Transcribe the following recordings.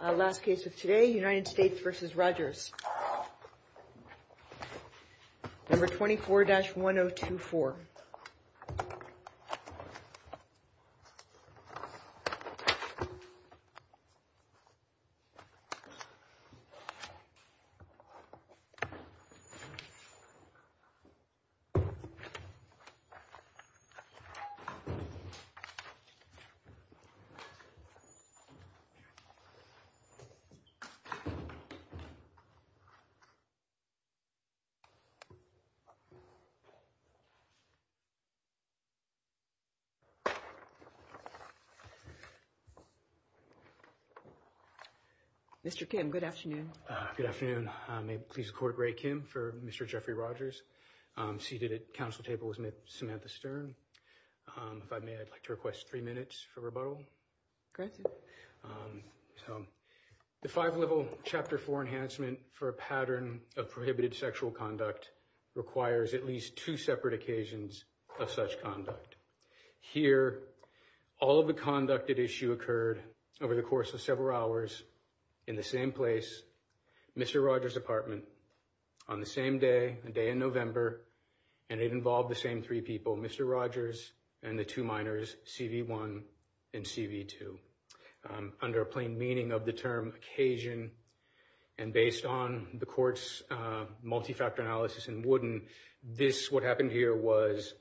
Last case of today, United States v. Rogers, No. 24-1024. Mr. Kim, good afternoon. Good afternoon. May it please the Court, Ray Kim for Mr. Jeffrey Rogers. Seated at the council table is Ms. Samantha Stern. If I may, I'd like to request three minutes for rebuttal. Go ahead, sir. The five-level chapter four enhancement for a pattern of prohibited sexual conduct requires at least two separate occasions of such conduct. Here, all of the conduct at issue occurred over the course of several hours in the same place, Mr. Rogers' apartment, on the same day, a day in November, and it involved the same three people, Mr. Rogers and the two minors, C.V. 1 and C.V. 2. Under a plain meaning of the term occasion, and based on the Court's multi-factor analysis in Wooden, this, what happened here, was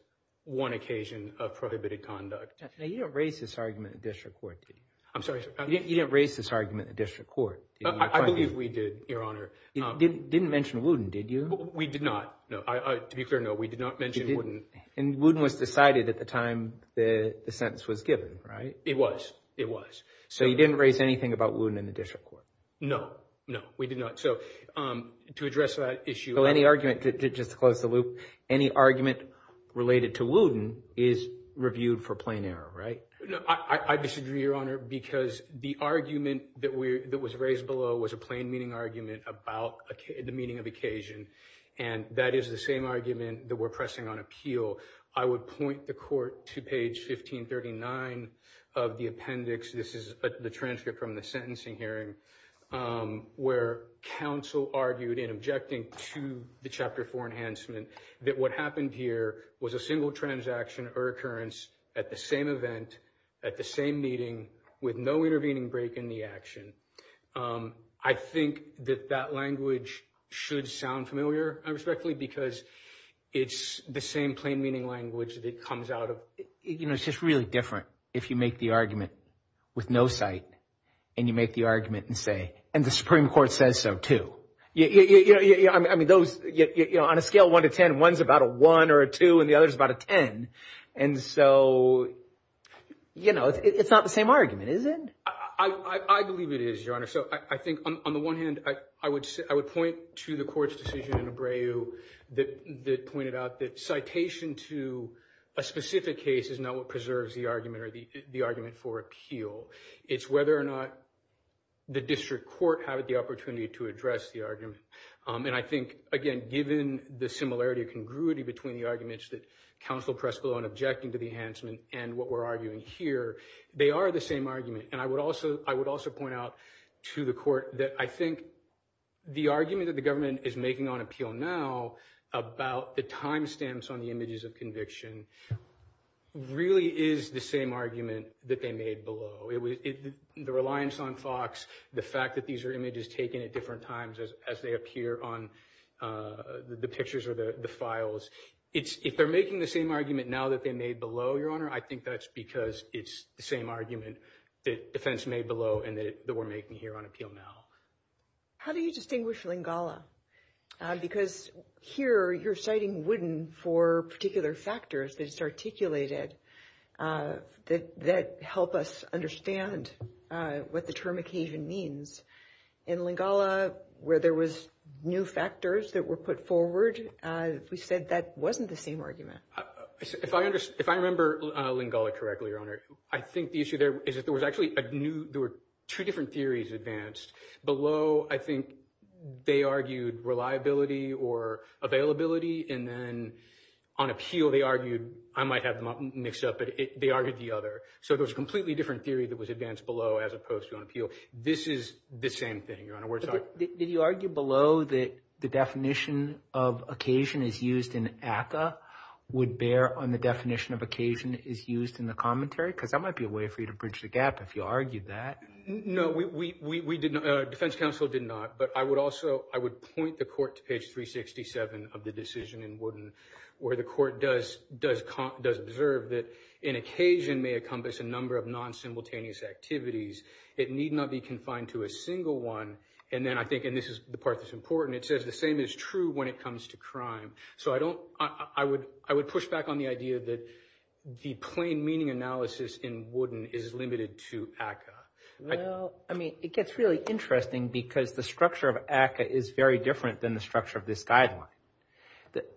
one occasion of prohibited conduct. Now, you didn't raise this argument at district court, did you? I'm sorry, sir. You didn't raise this argument at district court, did you? I believe we did, Your Honor. You didn't mention Wooden, did you? We did not. To be clear, no, we did not mention Wooden. And Wooden was decided at the time the sentence was given, right? It was. It was. So you didn't raise anything about Wooden in the district court? No. No, we did not. So to address that issue— Well, any argument, just to close the loop, any argument related to Wooden is reviewed for plain error, right? I disagree, Your Honor, because the argument that was raised below was a plain meaning argument about the meaning of occasion, and that is the same argument that we're pressing on appeal. I would point the court to page 1539 of the appendix—this is the transcript from the sentencing hearing—where counsel argued in objecting to the Chapter 4 enhancement that what happened here was a single transaction or occurrence at the same event, at the same meeting, with no intervening break in the action. I think that that language should sound familiar, I respectfully, because it's the same plain meaning language that comes out of— You know, it's just really different if you make the argument with no cite, and you make the argument and say, and the Supreme Court says so, too. I mean, those—on a scale of 1 to 10, one's about a 1 or a 2, and the other's about a 10. And so, you know, it's not the same argument, is it? I believe it is, Your Honor. So I think, on the one hand, I would point to the court's decision in Abreu that pointed out that citation to a specific case is not what preserves the argument for appeal. It's whether or not the district court had the opportunity to address the argument. And I think, again, given the similarity or congruity between the arguments that counsel pressed below in objecting to the enhancement and what we're arguing here, they are the same argument. And I would also point out to the court that I think the argument that the government is making on appeal now about the timestamps on the images of conviction really is the same argument that they made below. The reliance on Fox, the fact that these are images taken at different times as they appear on the pictures or the files, if they're making the same argument now that they made below, Your Honor, I think that's because it's the same argument that defense made below and that we're making here on appeal now. How do you distinguish Lingala? Because here you're citing Wooden for particular factors that it's articulated that help us understand what the term occasion means. In Lingala, where there was new factors that were put forward, we said that wasn't the same argument. If I remember Lingala correctly, Your Honor, I think the issue there is that there was actually two different theories advanced. Below, I think they argued reliability or availability. And then on appeal, they argued—I might have them mixed up, but they argued the other. So there was a completely different theory that was advanced below as opposed to on appeal. This is the same thing, Your Honor. Did you argue below that the definition of occasion is used in ACCA would bear on the definition of occasion is used in the commentary? Because that might be a way for you to bridge the gap if you argued that. No, we did not. Defense counsel did not. But I would also—I would point the court to page 367 of the decision in Wooden where the court does observe that an occasion may encompass a number of non-simultaneous activities. It need not be confined to a single one. And then I think—and this is the part that's important. It says the same is true when it comes to crime. So I don't—I would push back on the idea that the plain meaning analysis in Wooden is limited to ACCA. Well, I mean, it gets really interesting because the structure of ACCA is very different than the structure of this guideline.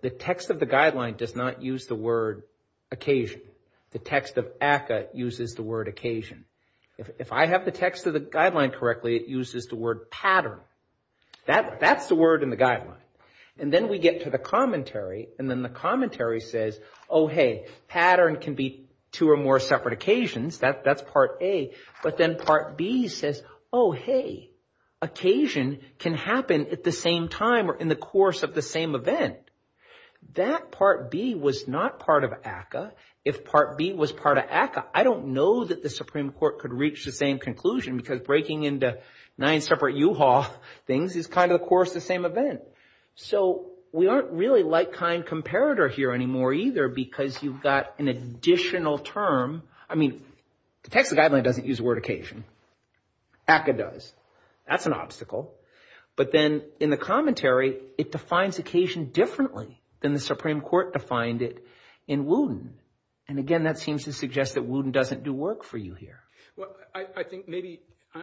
The text of the guideline does not use the word occasion. The text of ACCA uses the word occasion. If I have the text of the guideline correctly, it uses the word pattern. That's the word in the guideline. And then we get to the commentary, and then the commentary says, oh, hey, pattern can be two or more separate occasions. That's part A. But then part B says, oh, hey, occasion can happen at the same time or in the course of the same event. That part B was not part of ACCA. If part B was part of ACCA, I don't know that the Supreme Court could reach the same conclusion because breaking into nine separate U-Haul things is kind of the course of the same event. So we aren't really like kind comparator here anymore either because you've got an additional term. I mean, the text of the guideline doesn't use the word occasion. ACCA does. That's an obstacle. But then in the commentary, it defines occasion differently than the Supreme Court defined it in Wooten. And, again, that seems to suggest that Wooten doesn't do work for you here. I think maybe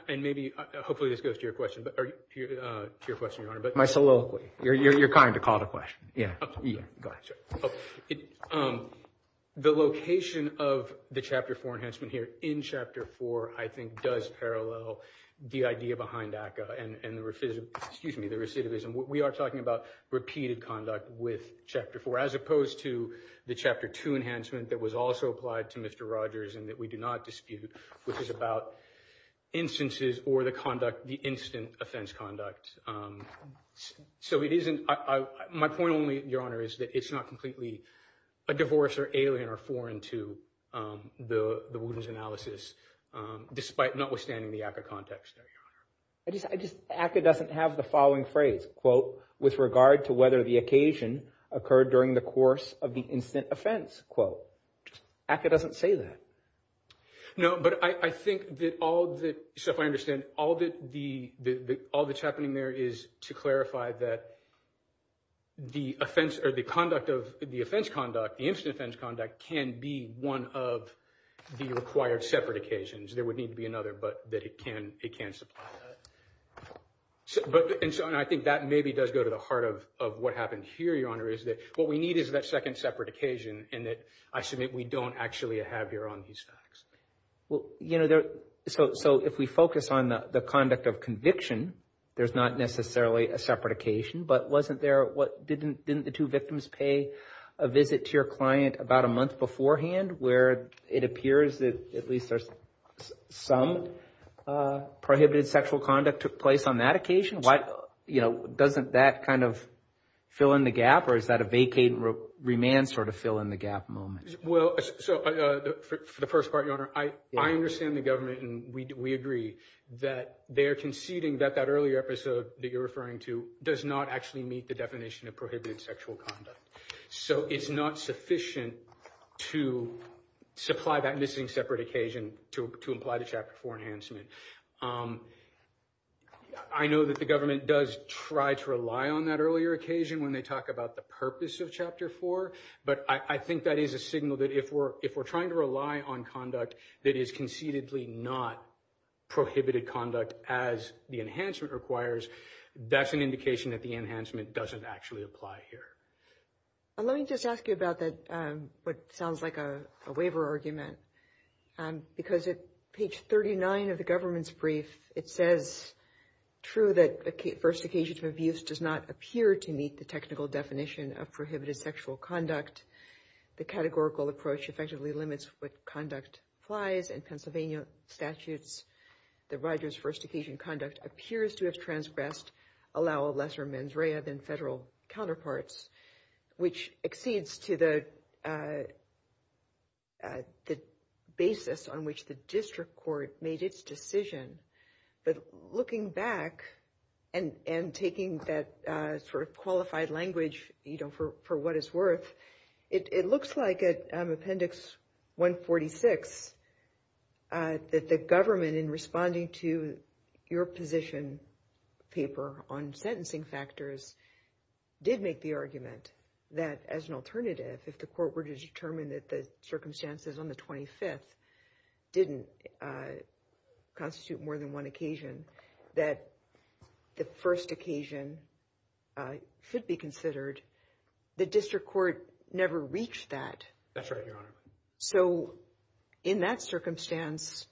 and maybe hopefully this goes to your question, Your Honor. My soliloquy. You're kind to call it a question. Yeah. Go ahead. The location of the Chapter 4 enhancement here in Chapter 4, I think, does parallel the idea behind ACCA and the recidivism. We are talking about repeated conduct with Chapter 4 as opposed to the Chapter 2 enhancement that was also applied to Mr. Rogers and that we do not dispute, which is about instances or the conduct, the instant offense conduct. So it isn't – my point only, Your Honor, is that it's not completely a divorce or alien or foreign to the Wooten's analysis, despite notwithstanding the ACCA context there, Your Honor. I just – ACCA doesn't have the following phrase, quote, with regard to whether the occasion occurred during the course of the instant offense, quote. ACCA doesn't say that. No, but I think that all the – so if I understand, all that's happening there is to clarify that the offense or the conduct of – the offense conduct, the instant offense conduct can be one of the required separate occasions. There would need to be another, but that it can supply that. And so I think that maybe does go to the heart of what happened here, Your Honor, is that what we need is that second separate occasion and that I submit we don't actually have here on these facts. Well, you know, so if we focus on the conduct of conviction, there's not necessarily a separate occasion, but wasn't there – didn't the two victims pay a visit to your client about a month beforehand where it appears that at least there's some prohibited sexual conduct took place on that occasion? Why – you know, doesn't that kind of fill in the gap or is that a vacate and remand sort of fill in the gap moment? Well, so for the first part, Your Honor, I understand the government and we agree that they are conceding that that earlier episode that you're referring to does not actually meet the definition of prohibited sexual conduct. So it's not sufficient to supply that missing separate occasion to imply the Chapter 4 enhancement. I know that the government does try to rely on that earlier occasion when they talk about the purpose of Chapter 4, but I think that is a signal that if we're trying to rely on conduct that is concededly not prohibited conduct as the enhancement requires, that's an indication that the enhancement doesn't actually apply here. Let me just ask you about that – what sounds like a waiver argument. Because at page 39 of the government's brief, it says, true that the first occasion of abuse does not appear to meet the technical definition of prohibited sexual conduct. The categorical approach effectively limits what conduct applies in Pennsylvania statutes. The righteous first occasion conduct appears to have transgressed, allow lesser mens rea than federal counterparts, which exceeds to the basis on which the district court made its decision. But looking back and taking that sort of qualified language, you know, for what it's worth, it looks like at Appendix 146 that the government in responding to your position paper on sentencing factors did make the argument that as an alternative, if the court were to determine that the circumstances on the 25th didn't constitute more than one occasion, that the first occasion should be considered, the district court never reached that. That's right, Your Honor. So in that circumstance,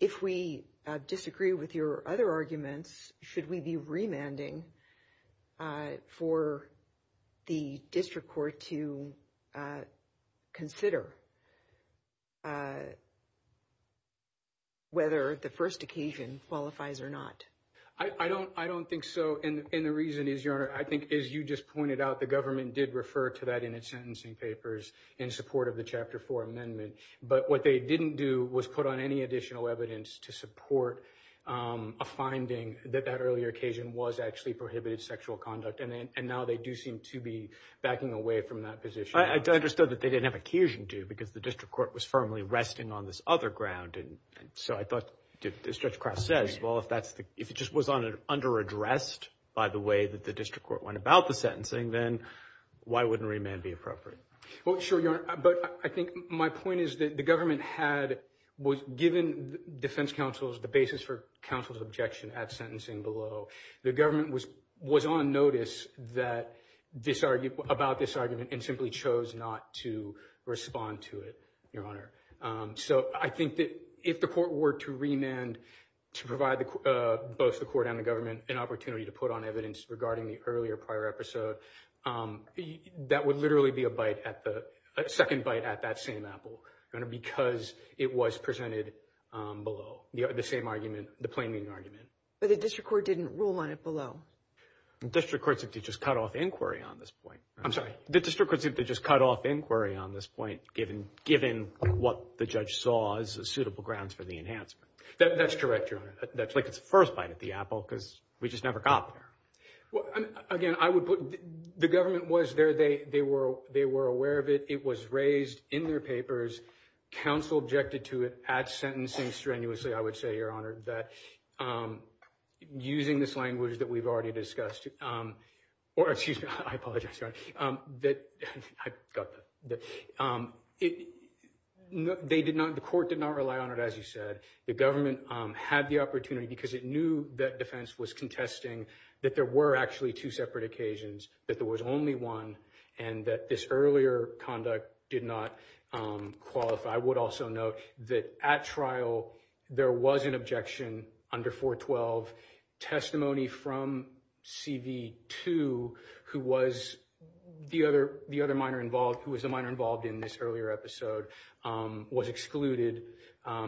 if we disagree with your other arguments, should we be remanding for the district court to consider whether the first occasion qualifies or not? I don't I don't think so. And the reason is, Your Honor, I think, as you just pointed out, the government did refer to that in its sentencing papers in support of the Chapter 4 amendment. But what they didn't do was put on any additional evidence to support a finding that that earlier occasion was actually prohibited sexual conduct. And now they do seem to be backing away from that position. I understood that they didn't have occasion to because the district court was firmly resting on this other ground. And so I thought, as Judge Kraft says, well, if that's the if it just was under addressed by the way that the district court went about the sentencing, then why wouldn't remand be appropriate? Well, sure. But I think my point is that the government had given defense counsels the basis for counsel's objection at sentencing below. The government was was on notice that this argument about this argument and simply chose not to respond to it, Your Honor. So I think that if the court were to remand to provide both the court and the government an opportunity to put on evidence regarding the earlier prior episode, that would literally be a bite at the second bite at that same apple because it was presented below the same argument, the plaiming argument. But the district court didn't rule on it below. District courts have to just cut off inquiry on this point. I'm sorry, the district courts have to just cut off inquiry on this point, given given what the judge saw as suitable grounds for the enhancement. That's correct, Your Honor. That's like its first bite at the apple because we just never got there. Well, again, I would put the government was there. They they were they were aware of it. It was raised in their papers. Counsel objected to it at sentencing strenuously. I would say, Your Honor, that using this language that we've already discussed or excuse me, I apologize that I got that. They did not. The court did not rely on it. As you said, the government had the opportunity because it knew that defense was contesting that there were actually two separate occasions, that there was only one and that this earlier conduct did not qualify. I would also note that at trial there was an objection under 412 testimony from CV to who was the other the other minor involved, who was the minor involved in this earlier episode was excluded.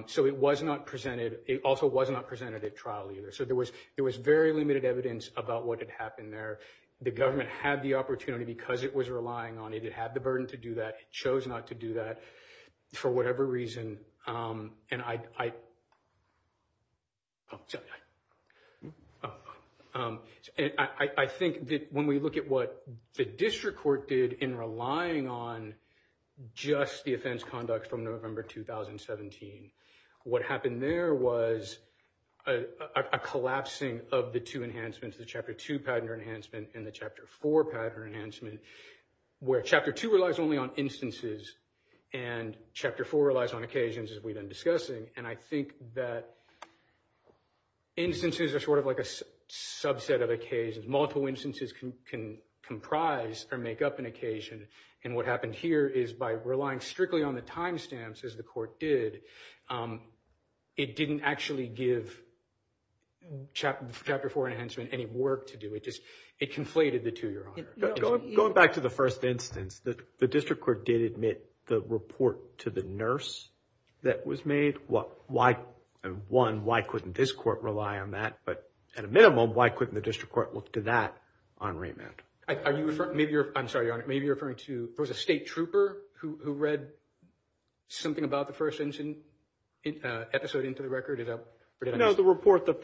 So it was not presented. It also was not presented at trial either. So there was there was very limited evidence about what had happened there. The government had the opportunity because it was relying on it. It had the burden to do that. It chose not to do that for whatever reason. And I. So I think that when we look at what the district court did in relying on just the offense conduct from November 2017, what happened there was a collapsing of the two enhancements, the chapter two patent enhancement and the chapter four patent enhancement, where chapter two relies only on instances and chapter four relies on occasions, as we've been discussing. And I think that instances are sort of like a subset of occasions. Multiple instances can comprise or make up an occasion. And what happened here is by relying strictly on the timestamps, as the court did, it didn't actually give chapter four enhancement any work to do. It just it conflated the two, Your Honor. Going back to the first instance, the district court did admit the report to the nurse that was made. Why? One, why couldn't this court rely on that? But at a minimum, why couldn't the district court look to that on remand? Are you referring, I'm sorry, Your Honor, maybe you're referring to there was a state trooper who read something about the first episode into the record? No, the report that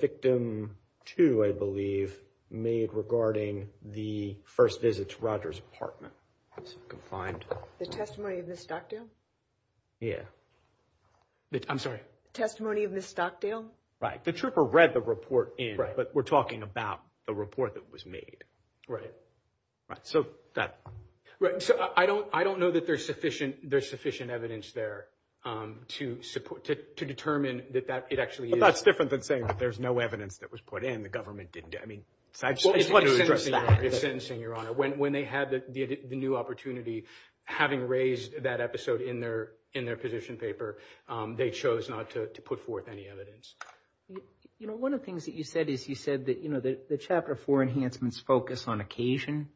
victim two, I believe, made regarding the first visit to Roger's apartment. The testimony of Ms. Stockdale? Yeah. I'm sorry. Testimony of Ms. Stockdale? Right. The trooper read the report in, but we're talking about the report that was made. Right. Right. So that. Right. So I don't I don't know that there's sufficient there's sufficient evidence there to support to determine that that it actually is. But that's different than saying that there's no evidence that was put in. The government didn't. I mean, it's sentencing, Your Honor. When they had the new opportunity, having raised that episode in their in their position paper, they chose not to put forth any evidence. You know, one of the things that you said is you said that, you know, the Chapter four enhancements focus on occasion.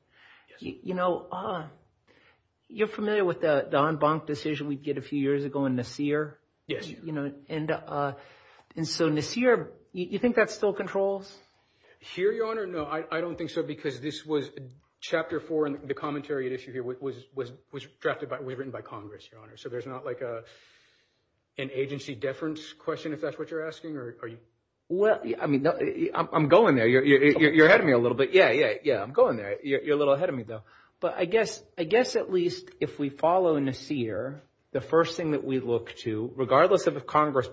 You know, you're familiar with the Don Bonk decision we did a few years ago in Nasir. Yes. You know, and and so Nasir, you think that still controls? Here, Your Honor, no, I don't think so, because this was Chapter four. And the commentary at issue here was was was drafted by we've written by Congress, Your Honor. So there's not like an agency deference question, if that's what you're asking. Are you? Well, I mean, I'm going there. You're ahead of me a little bit. Yeah. Yeah. Yeah. I'm going there. You're a little ahead of me, though. But I guess I guess at least if we follow Nasir, the first thing that we look to, regardless of if Congress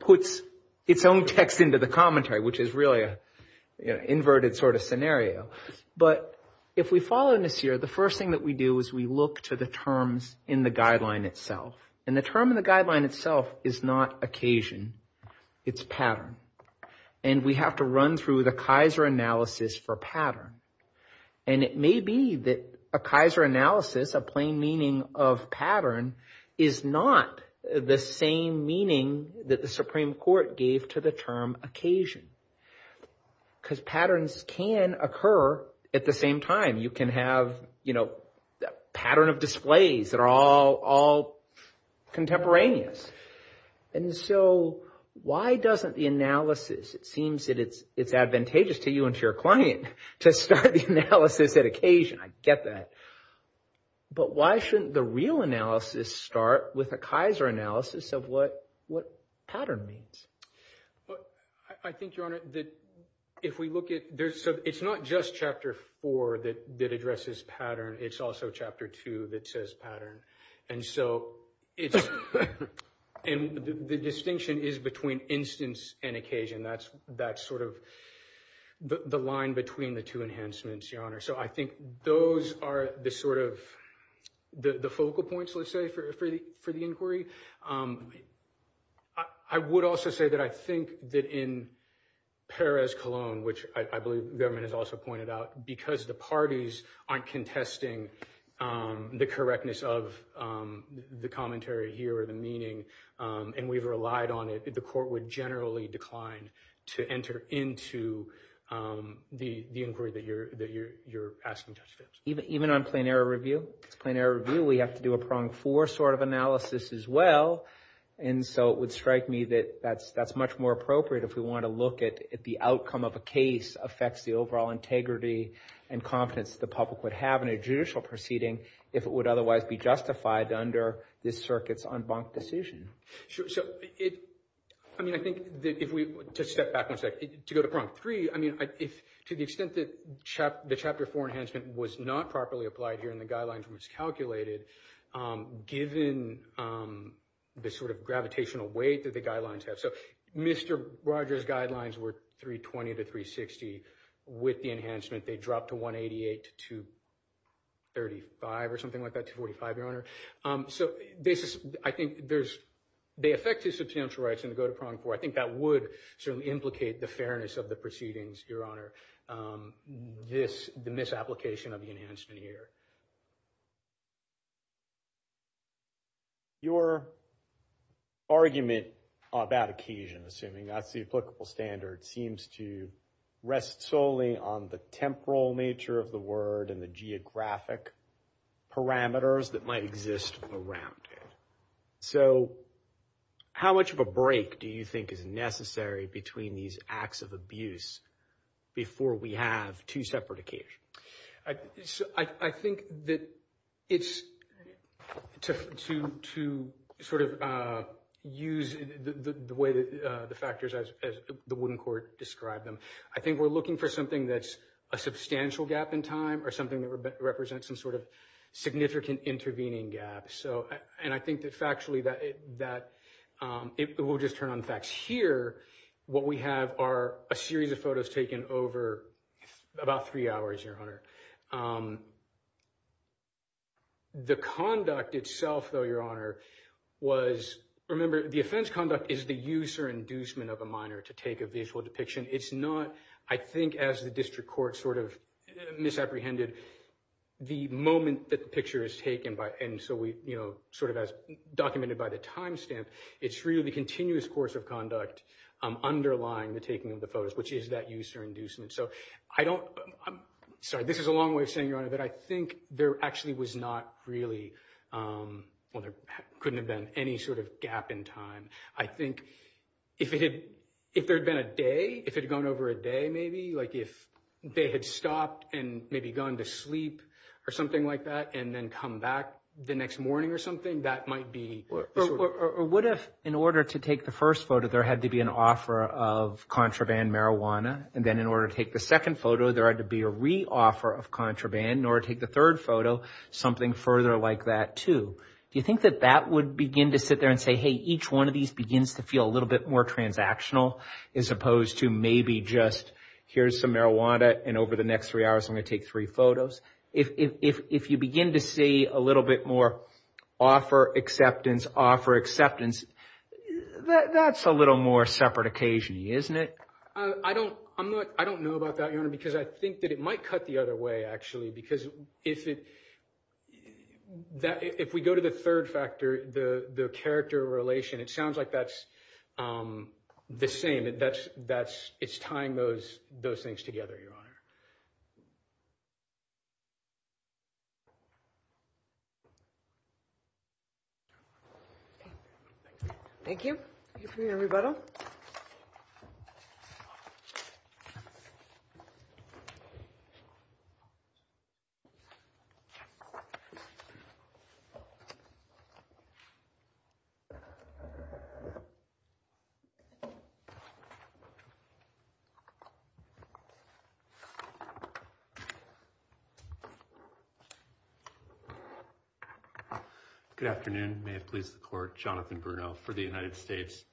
puts its own text into the commentary, which is really an inverted sort of scenario. But if we follow Nasir, the first thing that we do is we look to the terms in the guideline itself. And the term in the guideline itself is not occasion. It's pattern. And we have to run through the Kaiser analysis for pattern. And it may be that a Kaiser analysis, a plain meaning of pattern, is not the same meaning that the Supreme Court gave to the term occasion. Because patterns can occur at the same time. You can have, you know, a pattern of displays that are all contemporaneous. And so why doesn't the analysis, it seems that it's advantageous to you and to your client to start the analysis at occasion. I get that. But why shouldn't the real analysis start with a Kaiser analysis of what pattern means? I think, Your Honor, that if we look at this, it's not just Chapter 4 that addresses pattern. It's also Chapter 2 that says pattern. And so it's and the distinction is between instance and occasion. That's that's sort of the line between the two enhancements, Your Honor. So I think those are the sort of the focal points, let's say, for the inquiry. I would also say that I think that in Perez-Colón, which I believe the government has also pointed out, because the parties aren't contesting the correctness of the commentary here or the meaning and we've relied on it, the court would generally decline to enter into the inquiry that you're asking. Even on plain error review, it's plain error review. We have to do a prong four sort of analysis as well. And so it would strike me that that's much more appropriate if we want to look at the outcome of a case affects the overall integrity and confidence the public would have in a judicial proceeding if it would otherwise be justified under this circuit's en banc decision. So, I mean, I think that if we step back one second to go to prong three, I mean, if to the extent that the Chapter 4 enhancement was not properly applied here in the guidelines was calculated, given the sort of gravitational weight that the guidelines have. So Mr. Rogers' guidelines were 320 to 360. With the enhancement, they dropped to 188 to 235 or something like that, 245, Your Honor. So this is, I think there's, they affect his substantial rights and go to prong four. I think that would certainly implicate the fairness of the proceedings, Your Honor. This, the misapplication of the enhancement here. Your argument about occasion, assuming that's the applicable standard, seems to rest solely on the temporal nature of the word and the geographic parameters that might exist around it. So how much of a break do you think is necessary between these acts of abuse before we have two separate occasions? I think that it's, to sort of use the way that the factors as the wooden court described them, I think we're looking for something that's a substantial gap in time or something that represents some sort of significant intervening gap. So, and I think that factually that it will just turn on facts. Here, what we have are a series of photos taken over about three hours, Your Honor. The conduct itself, though, Your Honor, was, remember, the offense conduct is the use or inducement of a minor to take a visual depiction. It's not, I think as the district court sort of misapprehended the moment that the picture is taken by, and so we, you know, sort of as documented by the timestamp, it's really the continuous course of conduct underlying the taking of the photos, which is that use or inducement. So I don't, sorry, this is a long way of saying, Your Honor, that I think there actually was not really, well, there couldn't have been any sort of gap in time. I think if it had, if there had been a day, if it had gone over a day, maybe, like if they had stopped and maybe gone to sleep or something like that and then come back the next morning or something, that might be. Or what if, in order to take the first photo, there had to be an offer of contraband marijuana, and then in order to take the second photo, there had to be a re-offer of contraband, in order to take the third photo, something further like that, too. Do you think that that would begin to sit there and say, hey, each one of these begins to feel a little bit more transactional, as opposed to maybe just here's some marijuana, and over the next three hours, I'm going to take three photos? If you begin to see a little bit more offer, acceptance, offer, acceptance, that's a little more separate occasion, isn't it? I don't know about that, Your Honor, because I think that it might cut the other way, actually, because if we go to the third factor, the character relation, it sounds like that's the same. It's tying those things together, Your Honor. Thank you. Thank you for your rebuttal. Good afternoon. May it please the Court, Jonathan Bruno for the United States.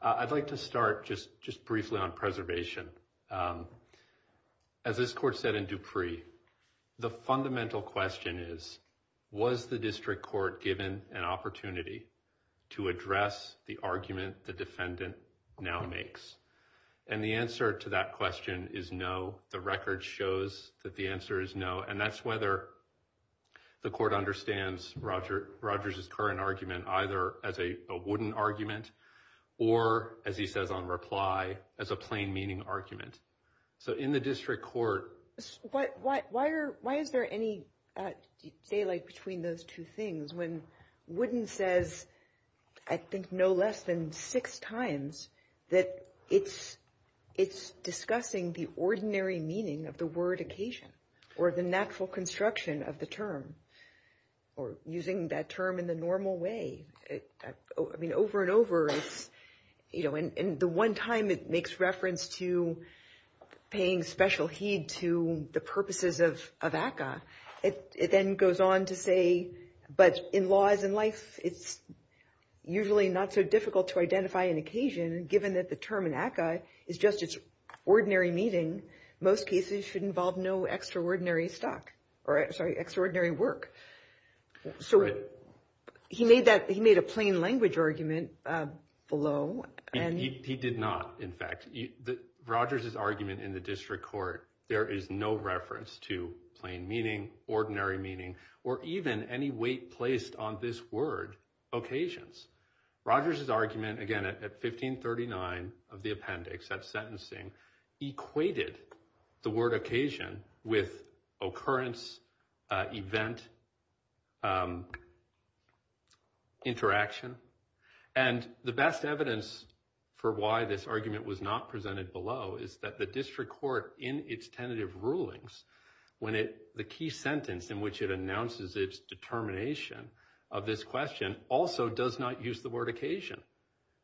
I'd like to start just briefly on preservation. As this Court said in Dupree, the fundamental question is, was the District Court given an opportunity to address the argument the defendant now makes? And the answer to that question is no. The record shows that the answer is no, and that's whether the Court understands Rogers' current argument either as a wooden argument or, as he says on reply, as a plain meaning argument. So in the District Court— Why is there any daylight between those two things when Wooden says, I think no less than six times, that it's discussing the ordinary meaning of the word occasion or the natural construction of the term or using that term in the normal way? I mean, over and over, and the one time it makes reference to paying special heed to the purposes of ACCA, it then goes on to say, but in laws and life, it's usually not so difficult to identify an occasion. Given that the term in ACCA is just its ordinary meaning, most cases should involve no extraordinary work. So he made a plain language argument below. He did not, in fact. Rogers' argument in the District Court, there is no reference to plain meaning, ordinary meaning, or even any weight placed on this word, occasions. Rogers' argument, again, at 1539 of the appendix, that sentencing, equated the word occasion with occurrence, event, interaction. And the best evidence for why this argument was not presented below is that the District Court, in its tentative rulings, when the key sentence in which it announces its determination of this question, also does not use the word occasion.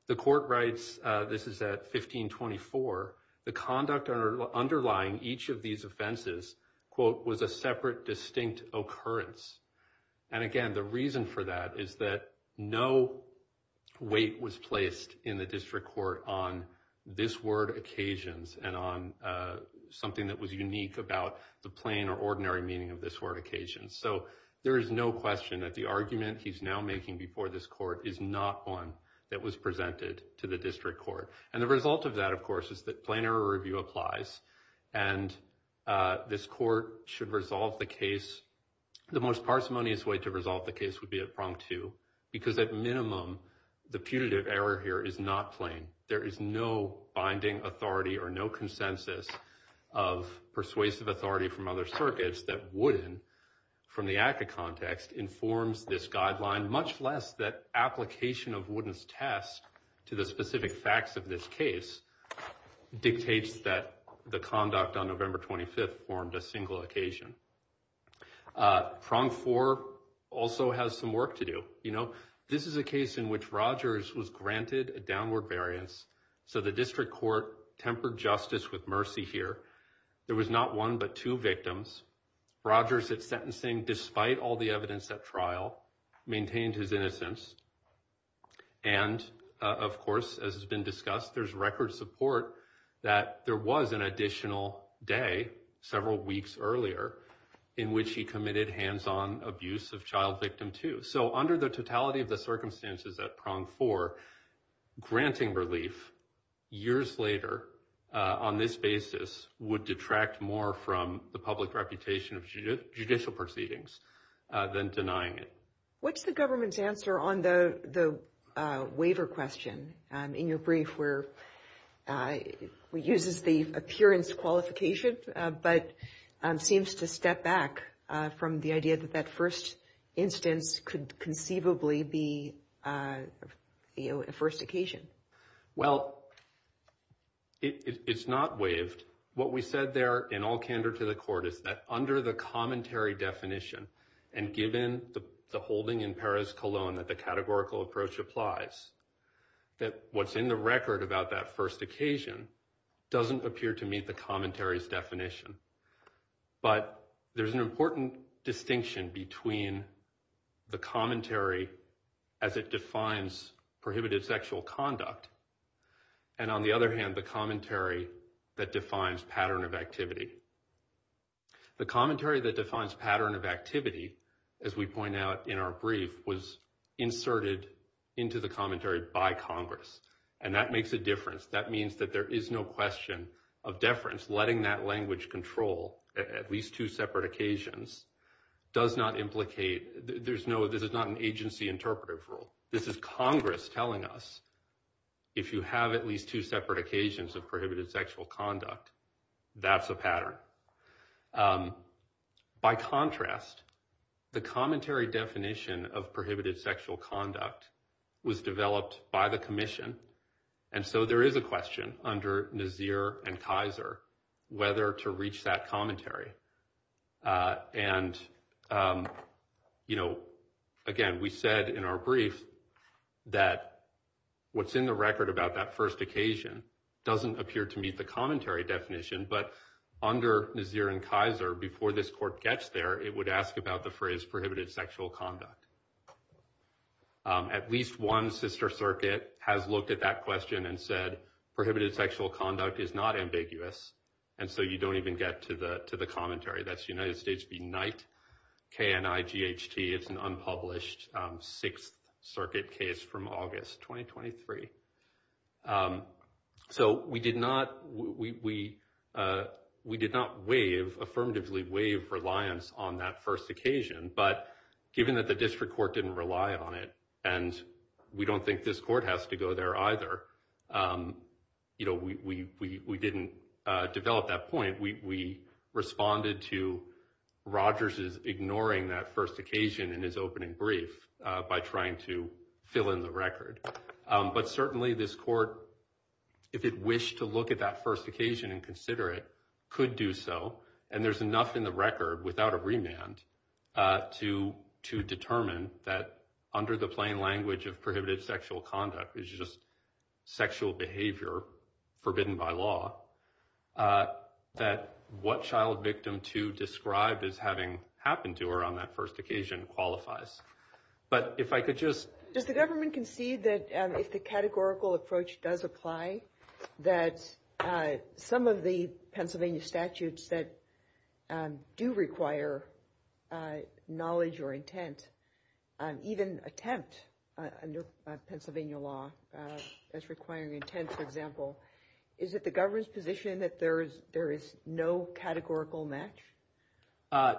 The court writes, this is at 1524, the conduct underlying each of these offenses, quote, was a separate, distinct occurrence. And again, the reason for that is that no weight was placed in the District Court on this word, occasions, and on something that was unique about the plain or ordinary meaning of this word, occasions. So there is no question that the argument he's now making before this court is not one that was presented to the District Court. And the result of that, of course, is that plain error review applies. And this court should resolve the case. The most parsimonious way to resolve the case would be at prong two, because at minimum, the putative error here is not plain. There is no binding authority or no consensus of persuasive authority from other circuits that wouldn't, from the ACCA context, informs this guideline, much less that application of Wooden's test to the specific facts of this case, dictates that the conduct on November 25th formed a single occasion. Prong four also has some work to do. You know, this is a case in which Rogers was granted a downward variance. So the District Court tempered justice with mercy here. There was not one but two victims. Rogers, at sentencing, despite all the evidence at trial, maintained his innocence. And, of course, as has been discussed, there's record support that there was an additional day, several weeks earlier, in which he committed hands-on abuse of child victim two. So under the totality of the circumstances at prong four, granting relief years later, on this basis, would detract more from the public reputation of judicial proceedings than denying it. What's the government's answer on the waiver question? In your brief, where it uses the appearance qualification, but seems to step back from the idea that that first instance could conceivably be a first occasion. Well, it's not waived. What we said there, in all candor to the court, is that under the commentary definition, and given the holding in Perez-Colón that the categorical approach applies, that what's in the record about that first occasion doesn't appear to meet the commentary's definition. But there's an important distinction between the commentary as it defines prohibited sexual conduct, and, on the other hand, the commentary that defines pattern of activity. The commentary that defines pattern of activity, as we point out in our brief, was inserted into the commentary by Congress, and that makes a difference. That means that there is no question of deference. Letting that language control at least two separate occasions does not implicate – this is not an agency interpretive rule. This is Congress telling us if you have at least two separate occasions of prohibited sexual conduct, that's a pattern. By contrast, the commentary definition of prohibited sexual conduct was developed by the commission, and so there is a question under Nazir and Kaiser whether to reach that commentary. And, you know, again, we said in our brief that what's in the record about that first occasion doesn't appear to meet the commentary definition, but under Nazir and Kaiser, before this court gets there, it would ask about the phrase prohibited sexual conduct. At least one sister circuit has looked at that question and said prohibited sexual conduct is not ambiguous, and so you don't even get to the commentary. That's United States v. Knight, K-N-I-G-H-T. It's an unpublished Sixth Circuit case from August 2023. So we did not waive, affirmatively waive, reliance on that first occasion, but given that the district court didn't rely on it, and we don't think this court has to go there either, you know, we didn't develop that point. We responded to Rogers' ignoring that first occasion in his opening brief by trying to fill in the record. But certainly this court, if it wished to look at that first occasion and consider it, could do so, and there's enough in the record without a remand to determine that under the plain language of prohibited sexual conduct is just sexual behavior forbidden by law, that what child victim two described as having happened to her on that first occasion qualifies. But if I could just- Does the government concede that if the categorical approach does apply, that some of the Pennsylvania statutes that do require knowledge or intent, even attempt under Pennsylvania law as requiring intent, for example, is it the government's position that there is no categorical match?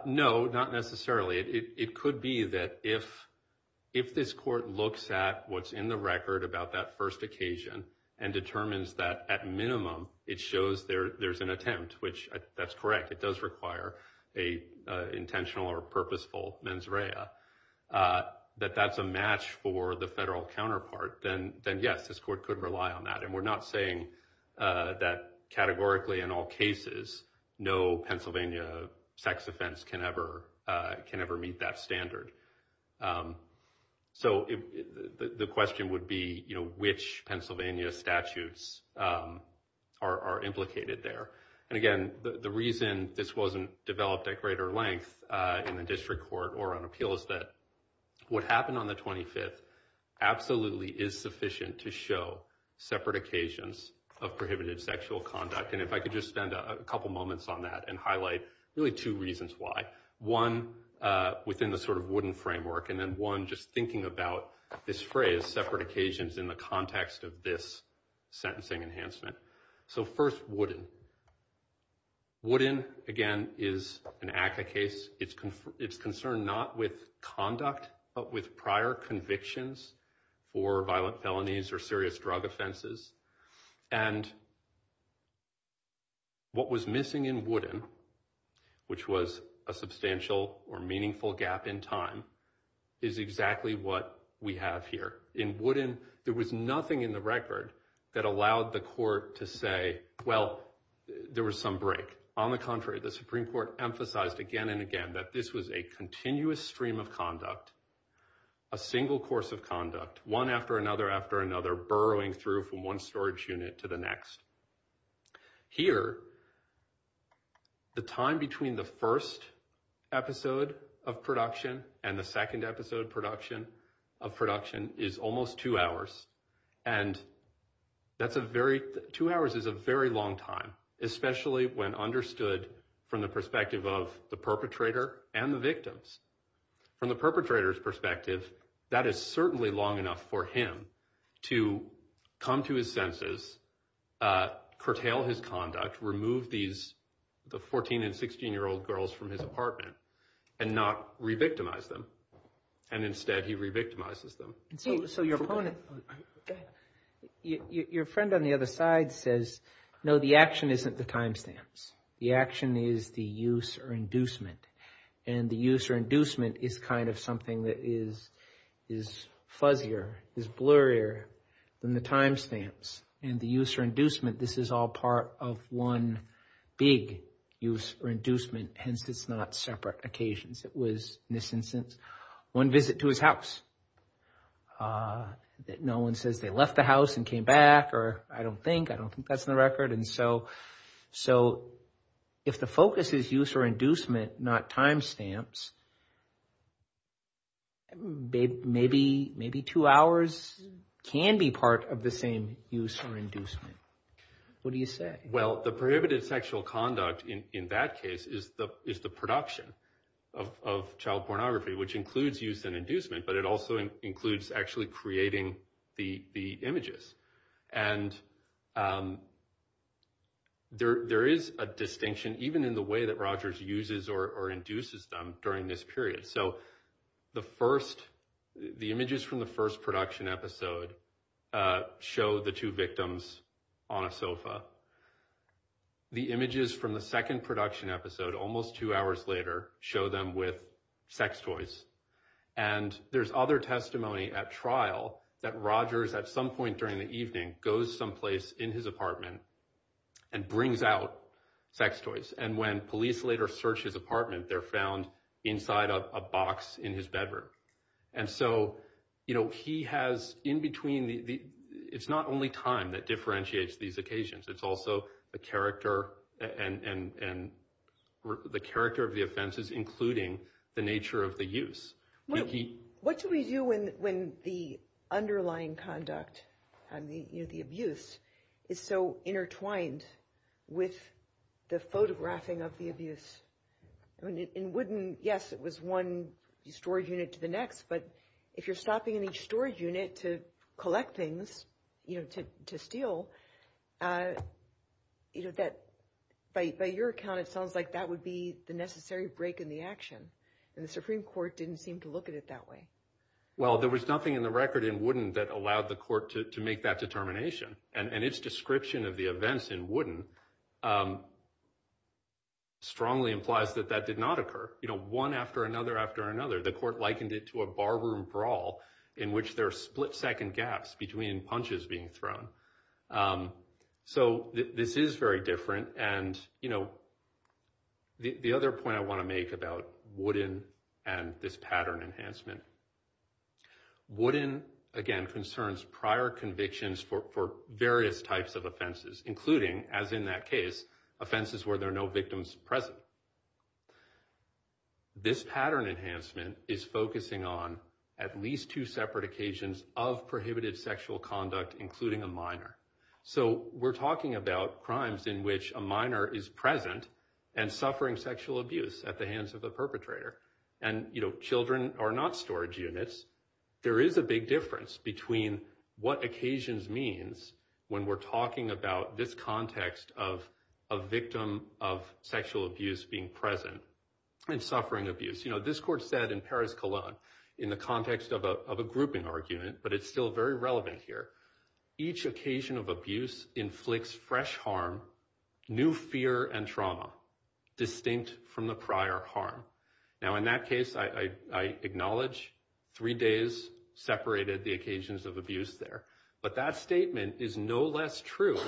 No, not necessarily. It could be that if this court looks at what's in the record about that first occasion and determines that at minimum it shows there's an attempt, which that's correct, it does require an intentional or purposeful mens rea, that that's a match for the federal counterpart, then yes, this court could rely on that. And we're not saying that categorically in all cases no Pennsylvania sex offense can ever meet that standard. So the question would be which Pennsylvania statutes are implicated there. And again, the reason this wasn't developed at greater length in the district court or on appeal was that what happened on the 25th absolutely is sufficient to show separate occasions of prohibited sexual conduct. And if I could just spend a couple moments on that and highlight really two reasons why. One, within the sort of wooden framework, and then one just thinking about this phrase separate occasions in the context of this sentencing enhancement. So first, wooden. Wooden, again, is an ACCA case. It's concerned not with conduct but with prior convictions for violent felonies or serious drug offenses. And what was missing in wooden, which was a substantial or meaningful gap in time, is exactly what we have here. In wooden, there was nothing in the record that allowed the court to say, well, there was some break. On the contrary, the Supreme Court emphasized again and again that this was a continuous stream of conduct, a single course of conduct, one after another after another, burrowing through from one storage unit to the next. Here, the time between the first episode of production and the second episode production of production is almost two hours. And that's a very two hours is a very long time, especially when understood from the perspective of the perpetrator and the victims. From the perpetrator's perspective, that is certainly long enough for him to come to his senses, curtail his conduct, remove these the 14 and 16 year old girls from his apartment and not re-victimize them. And instead he re-victimizes them. So your opponent, your friend on the other side says, no, the action isn't the timestamps. The action is the use or inducement. And the use or inducement is kind of something that is fuzzier, is blurrier than the timestamps. And the use or inducement, this is all part of one big use or inducement. Hence, it's not separate occasions. It was, in this instance, one visit to his house. No one says they left the house and came back or I don't think. I don't think that's in the record. And so if the focus is use or inducement, not timestamps, maybe two hours can be part of the same use or inducement. What do you say? Well, the prohibited sexual conduct in that case is the production of child pornography, which includes use and inducement, but it also includes actually creating the images. And there is a distinction, even in the way that Rogers uses or induces them during this period. So the first the images from the first production episode show the two victims on a sofa. The images from the second production episode, almost two hours later, show them with sex toys. And there's other testimony at trial that Rogers, at some point during the evening, goes someplace in his apartment and brings out sex toys. And when police later search his apartment, they're found inside a box in his bedroom. And so, you know, he has in between. It's not only time that differentiates these occasions. It's also the character and the character of the offenses, including the nature of the use. What do we do when when the underlying conduct and the abuse is so intertwined with the photographing of the abuse? I mean, it wouldn't. Yes, it was one storage unit to the next. But if you're stopping in each storage unit to collect things, you know, to steal. You know that by your account, it sounds like that would be the necessary break in the action. And the Supreme Court didn't seem to look at it that way. Well, there was nothing in the record in Wooden that allowed the court to make that determination. And its description of the events in Wooden strongly implies that that did not occur. You know, one after another, after another. The court likened it to a barroom brawl in which there are split second gaps between punches being thrown. So this is very different. And, you know, the other point I want to make about Wooden and this pattern enhancement. Wooden, again, concerns prior convictions for various types of offenses, including, as in that case, offenses where there are no victims present. This pattern enhancement is focusing on at least two separate occasions of prohibited sexual conduct, including a minor. So we're talking about crimes in which a minor is present and suffering sexual abuse at the hands of the perpetrator. And, you know, children are not storage units. There is a big difference between what occasions means when we're talking about this context of a victim of sexual abuse being present and suffering abuse. You know, this court said in Paris Cologne in the context of a grouping argument, but it's still very relevant here. Each occasion of abuse inflicts fresh harm, new fear and trauma distinct from the prior harm. Now, in that case, I acknowledge three days separated the occasions of abuse there. But that statement is no less true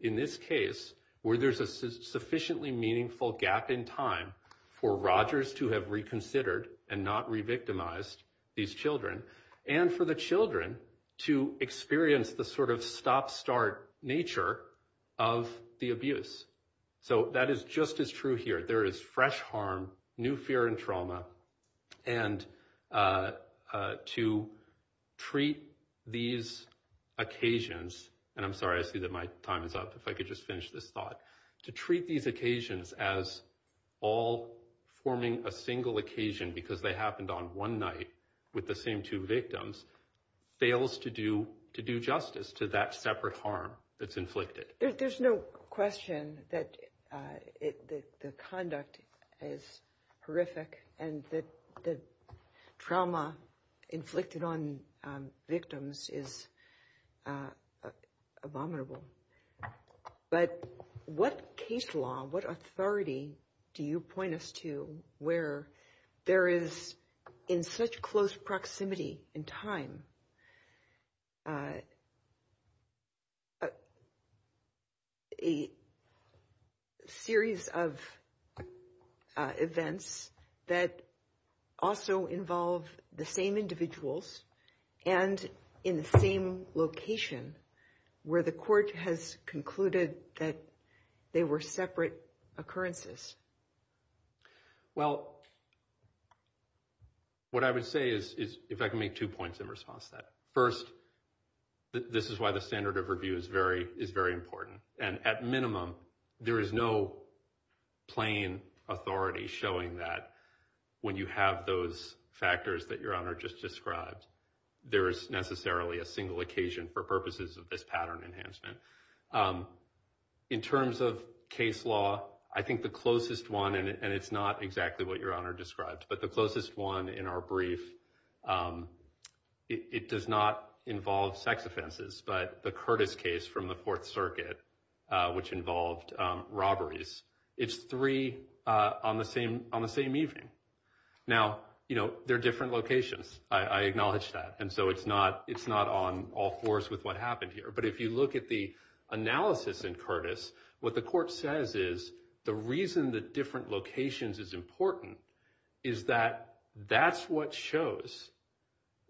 in this case where there's a sufficiently meaningful gap in time for Rogers to have reconsidered and not revictimized these children and for the children to experience the sort of stop start nature of the abuse. So that is just as true here. There is fresh harm, new fear and trauma. And to treat these occasions. And I'm sorry, I see that my time is up. If I could just finish this thought to treat these occasions as all forming a single occasion because they happened on one night with the same two victims fails to do to do justice to that separate harm that's inflicted. There's no question that the conduct is horrific and that the trauma inflicted on victims is abominable. But what case law, what authority do you point us to where there is in such close proximity in time? A series of events that also involve the same individuals and in the same location where the court has concluded that they were separate occurrences. Well, what I would say is, is if I can make two points in response to that. First, this is why the standard of review is very, is very important. And at minimum, there is no plain authority showing that when you have those factors that your honor just described, there is necessarily a single occasion for purposes of this pattern enhancement. In terms of case law, I think the closest one, and it's not exactly what your honor described, but the closest one in our brief, it does not involve sex offenses. But the Curtis case from the Fourth Circuit, which involved robberies, it's three on the same on the same evening. Now, you know, they're different locations. I acknowledge that. And so it's not it's not on all fours with what happened here. But if you look at the analysis in Curtis, what the court says is the reason the different locations is important is that that's what shows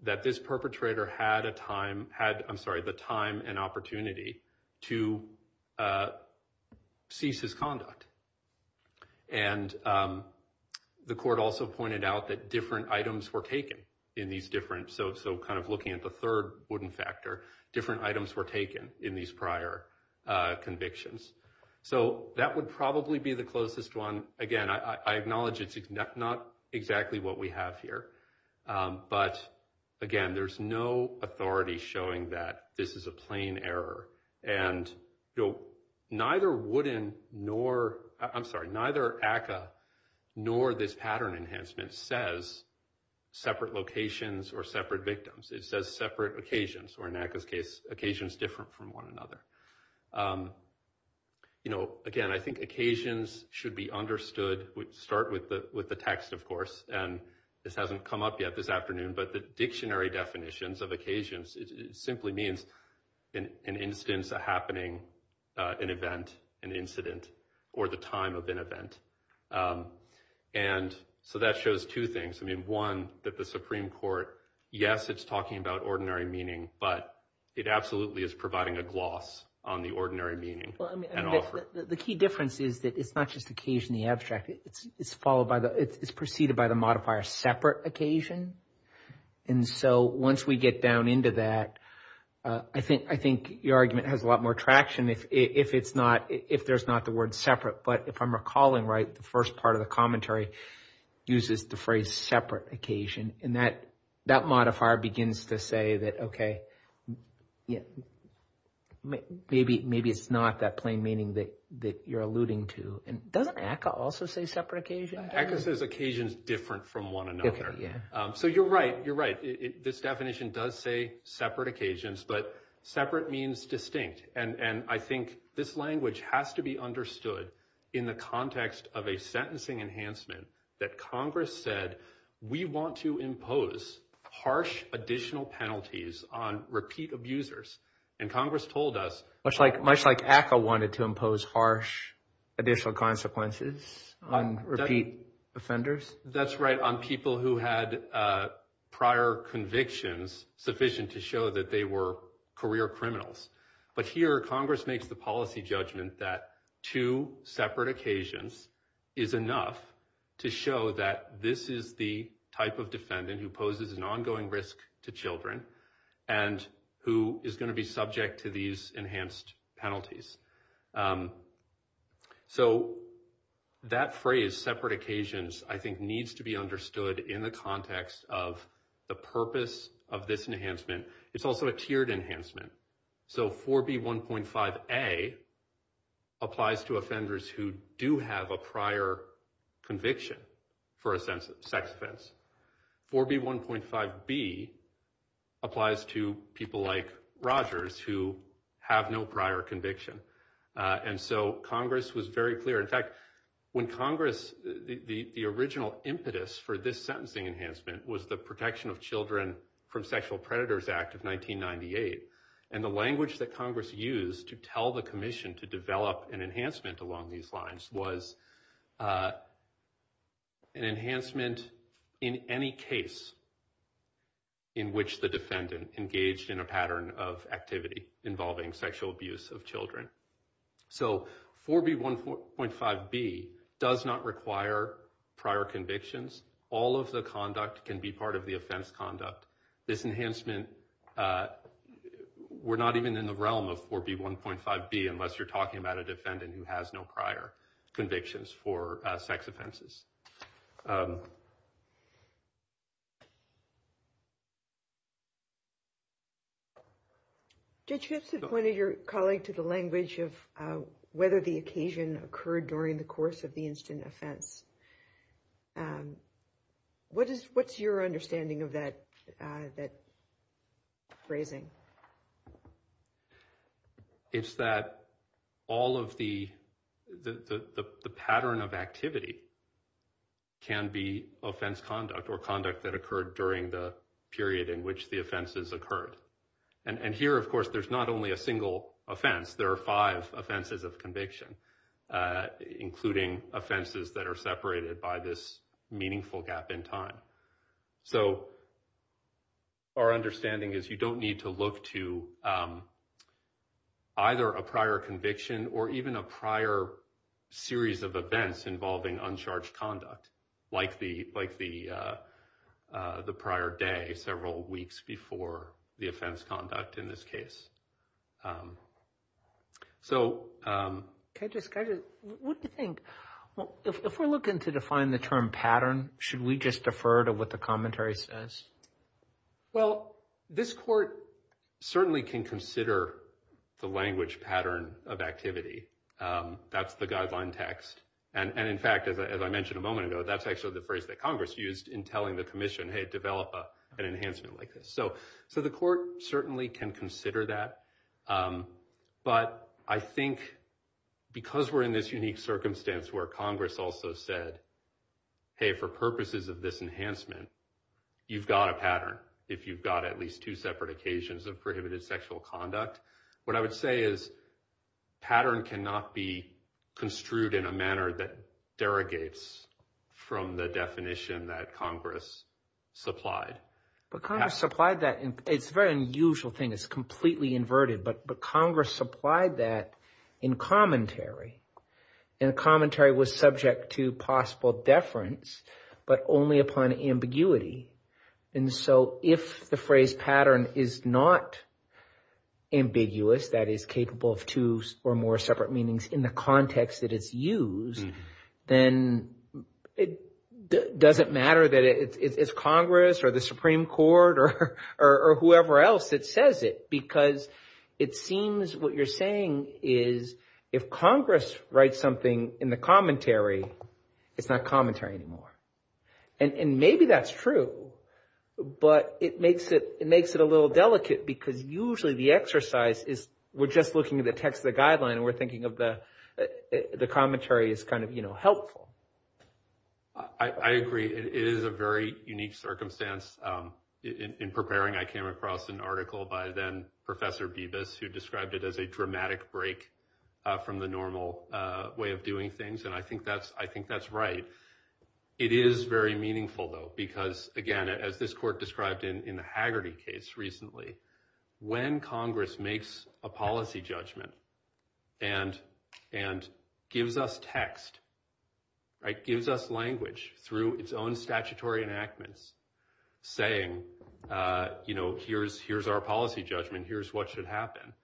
that this perpetrator had a time, had, I'm sorry, the time and opportunity to cease his conduct. And the court also pointed out that different items were taken in these different. So so kind of looking at the third wooden factor, different items were taken in these prior convictions. So that would probably be the closest one. Again, I acknowledge it's not exactly what we have here. But, again, there's no authority showing that this is a plain error. And, you know, neither wooden, nor I'm sorry, neither ACA, nor this pattern enhancement says separate locations or separate victims. It says separate occasions, or in ACA's case, occasions different from one another. You know, again, I think occasions should be understood. Start with the with the text, of course. And this hasn't come up yet this afternoon. But the dictionary definitions of occasions simply means an instance, a happening, an event, an incident, or the time of an event. And so that shows two things. I mean, one, that the Supreme Court, yes, it's talking about ordinary meaning, but it absolutely is providing a gloss on the ordinary meaning. The key difference is that it's not just occasionally abstract. It's followed by the it's preceded by the modifier separate occasion. And so once we get down into that, I think I think your argument has a lot more traction if it's not if there's not the word separate. But if I'm recalling right, the first part of the commentary uses the phrase separate occasion. And that that modifier begins to say that, OK, yeah, maybe maybe it's not that plain meaning that that you're alluding to. And doesn't ACA also say separate occasion? Because there's occasions different from one another. Yeah. So you're right. You're right. This definition does say separate occasions, but separate means distinct. And I think this language has to be understood in the context of a sentencing enhancement that Congress said we want to impose harsh additional penalties on repeat abusers. And Congress told us much like much like ACA wanted to impose harsh additional consequences on repeat offenders. That's right. On people who had prior convictions sufficient to show that they were career criminals. But here Congress makes the policy judgment that two separate occasions is enough to show that this is the type of defendant who poses an ongoing risk to children and who is going to be subject to these enhanced penalties. So that phrase separate occasions, I think, needs to be understood in the context of the purpose of this enhancement. It's also a tiered enhancement. So 4B1.5A applies to offenders who do have a prior conviction for a sex offense. 4B1.5B applies to people like Rogers who have no prior conviction. And so Congress was very clear. In fact, when Congress, the original impetus for this sentencing enhancement was the Protection of Children from Sexual Predators Act of 1998. And the language that Congress used to tell the commission to develop an enhancement along these lines was an enhancement in any case in which the defendant engaged in a pattern of activity involving sexual abuse of children. So 4B1.5B does not require prior convictions. All of the conduct can be part of the offense conduct. This enhancement, we're not even in the realm of 4B1.5B unless you're talking about a defendant who has no prior convictions for sex offenses. Judge Gibson pointed your colleague to the language of whether the occasion occurred during the course of the instant offense. What is what's your understanding of that that phrasing? It's that all of the the pattern of activity can be offense conduct or conduct that occurred during the period in which the offenses occurred. And here, of course, there's not only a single offense. There are five offenses of conviction, including offenses that are separated by this meaningful gap in time. So our understanding is you don't need to look to either a prior conviction or even a prior series of events involving uncharged conduct like the like the prior day, several weeks before the offense conduct in this case. So what do you think? If we're looking to define the term pattern, should we just defer to what the commentary says? Well, this court certainly can consider the language pattern of activity. That's the guideline text. And in fact, as I mentioned a moment ago, that's actually the phrase that Congress used in telling the commission, hey, develop an enhancement like this. So so the court certainly can consider that. But I think because we're in this unique circumstance where Congress also said, hey, for purposes of this enhancement, you've got a pattern. If you've got at least two separate occasions of prohibited sexual conduct, what I would say is pattern cannot be construed in a manner that derogates from the definition that Congress supplied. But Congress supplied that it's very unusual thing is completely inverted. But but Congress supplied that in commentary and commentary was subject to possible deference, but only upon ambiguity. And so if the phrase pattern is not ambiguous, that is capable of two or more separate meanings in the context that it's used, then it doesn't matter that it's Congress or the Supreme Court or whoever else. It says it because it seems what you're saying is if Congress writes something in the commentary, it's not commentary anymore. And maybe that's true, but it makes it it makes it a little delicate because usually the exercise is we're just looking at the text of the guideline and we're thinking of the the commentary is kind of, you know, helpful. I agree it is a very unique circumstance in preparing. I came across an article by then Professor Bevis, who described it as a dramatic break from the normal way of doing things. And I think that's I think that's right. It is very meaningful, though, because, again, as this court described in the Haggerty case recently, when Congress makes a policy judgment and and gives us text. It gives us language through its own statutory enactments, saying, you know, here's here's our policy judgment, here's what should happen.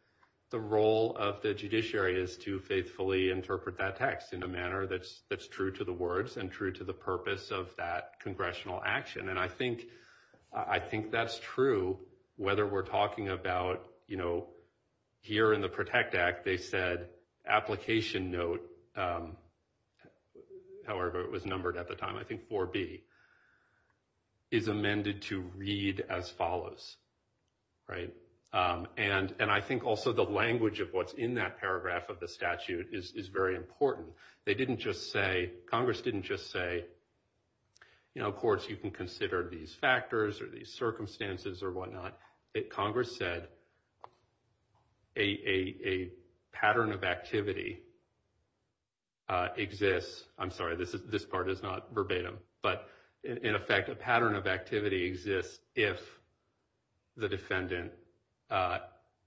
The role of the judiciary is to faithfully interpret that text in a manner that's that's true to the words and true to the purpose of that congressional action. And I think I think that's true, whether we're talking about, you know, here in the Protect Act. They said application note. However, it was numbered at the time, I think for B. Is amended to read as follows. Right. And and I think also the language of what's in that paragraph of the statute is very important. They didn't just say Congress didn't just say, you know, of course, you can consider these factors or these circumstances or whatnot. It Congress said a pattern of activity. Exists. I'm sorry, this is this part is not verbatim, but in effect, a pattern of activity exists if the defendant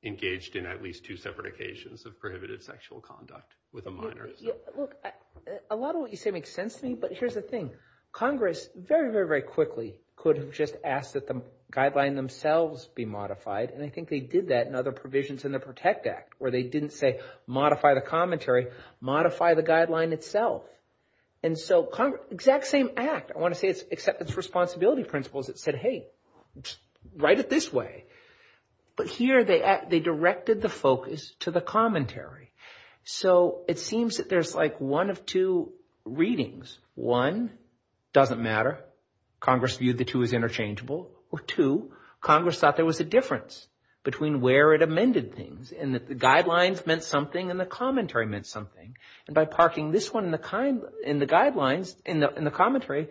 engaged in at least two separate occasions of prohibited sexual conduct with a minor. Look, a lot of what you say makes sense to me. But here's the thing. Congress very, very, very quickly could have just asked that the guideline themselves be modified. And I think they did that in other provisions in the Protect Act where they didn't say modify the commentary, modify the guideline itself. And so exact same act. I want to say it's acceptance responsibility principles that said, hey, write it this way. But here they they directed the focus to the commentary. So it seems that there's like one of two readings. One doesn't matter. Congress viewed the two as interchangeable or two. Congress thought there was a difference between where it amended things and that the guidelines meant something and the commentary meant something. And by parking this one in the kind in the guidelines and in the commentary,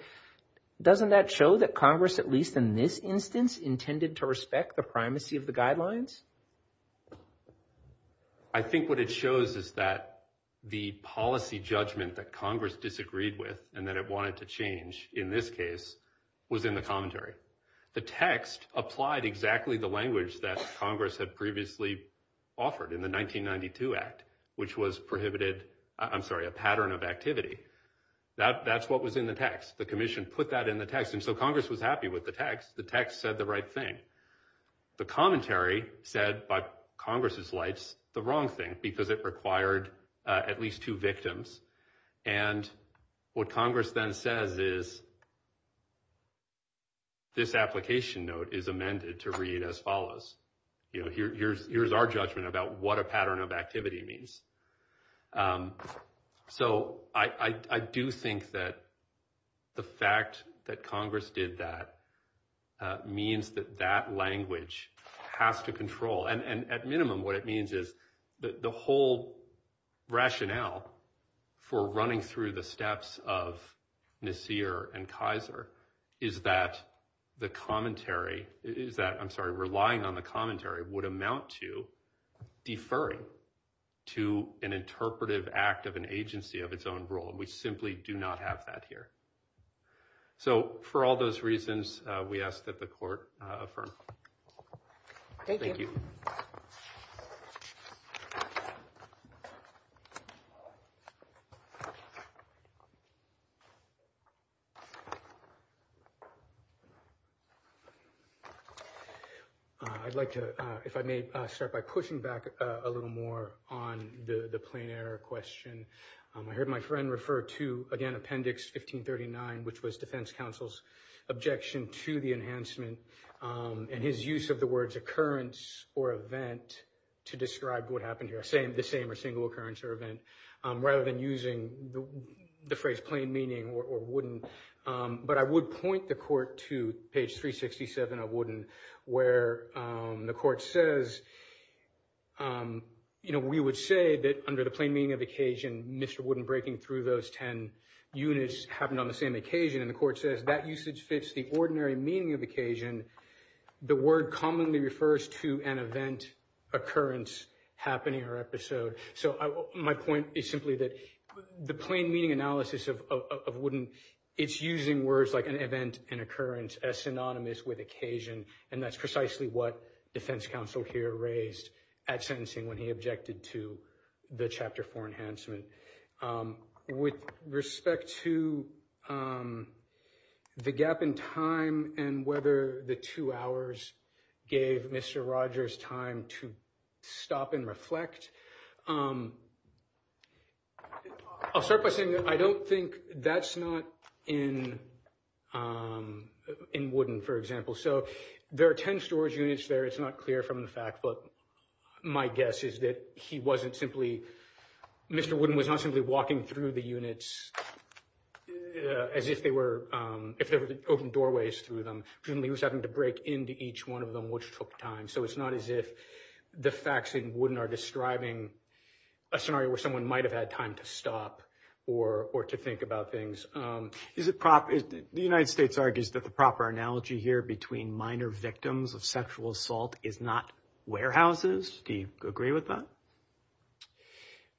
doesn't that show that Congress, at least in this instance, intended to respect the primacy of the guidelines? I think what it shows is that the policy judgment that Congress disagreed with and that it wanted to change in this case was in the commentary. The text applied exactly the language that Congress had previously offered in the 1992 act, which was prohibited. I'm sorry, a pattern of activity that that's what was in the text. The commission put that in the text. And so Congress was happy with the text. The text said the right thing. The commentary said by Congress's lights, the wrong thing, because it required at least two victims. And what Congress then says is. This application note is amended to read as follows. You know, here's here's our judgment about what a pattern of activity means. So I do think that the fact that Congress did that means that that language has to control. Act of an agency of its own role. And we simply do not have that here. So for all those reasons, we ask that the court. Thank you. I'd like to, if I may, start by pushing back a little more on the plane air question. I heard my friend refer to, again, Appendix 1539, which was defense counsel's objection to the enhancement and his use of the words occurrence or event to describe what happened here. I say the same or single occurrence or event rather than using the phrase plain meaning or wouldn't. But I would point the court to page 367 of wouldn't where the court says, you know, we would say that under the plain meaning of occasion, Mr. wouldn't breaking through those 10 units happened on the same occasion. And the court says that usage fits the ordinary meaning of occasion. The word commonly refers to an event occurrence happening or episode. So my point is simply that the plain meaning analysis of wouldn't it's using words like an event and occurrence as synonymous with occasion. And that's precisely what defense counsel here raised at sentencing when he objected to the chapter for enhancement. With respect to the gap in time and whether the two hours gave Mr. Rogers time to stop and reflect. I'll start by saying that I don't think that's not in. In wouldn't, for example, so there are 10 storage units there. It's not clear from the fact. But my guess is that he wasn't simply Mr. wouldn't was not simply walking through the units as if they were open doorways through them. He was having to break into each one of them, which took time. So it's not as if the facts in wouldn't are describing a scenario where someone might have had time to stop or or to think about things. Is it proper? The United States argues that the proper analogy here between minor victims of sexual assault is not warehouses. Do you agree with that?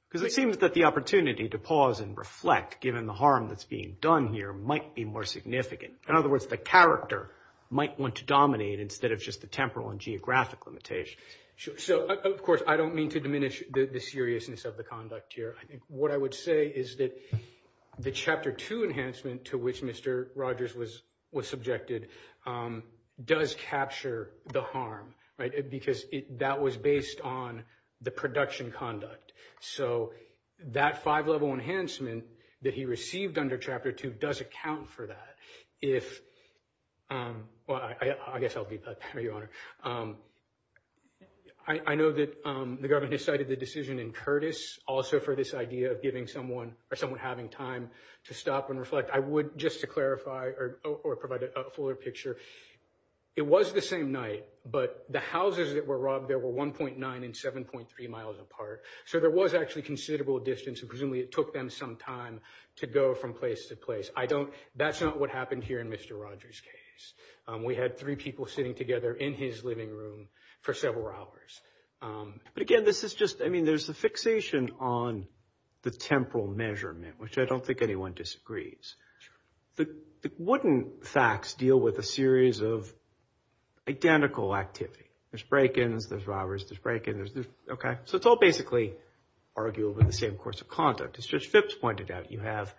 Because it seems that the opportunity to pause and reflect, given the harm that's being done here, might be more significant. In other words, the character might want to dominate instead of just the temporal and geographic limitation. Sure. So, of course, I don't mean to diminish the seriousness of the conduct here. I think what I would say is that the chapter two enhancement to which Mr. Rogers was was subjected does capture the harm. Because that was based on the production conduct. So that five level enhancement that he received under Chapter two does account for that. If I guess I'll be your honor. I know that the government decided the decision in Curtis also for this idea of giving someone or someone having time to stop and reflect. I would just to clarify or provide a fuller picture. It was the same night, but the houses that were robbed, there were one point nine and seven point three miles apart. So there was actually considerable distance. Presumably it took them some time to go from place to place. I don't. That's not what happened here in Mr. Rogers case. We had three people sitting together in his living room for several hours. But again, this is just I mean, there's a fixation on the temporal measurement, which I don't think anyone disagrees. Wouldn't facts deal with a series of identical activity? There's break ins, there's robbers, there's break ins. OK, so it's all basically argued with the same course of conduct. As Fitz pointed out, you have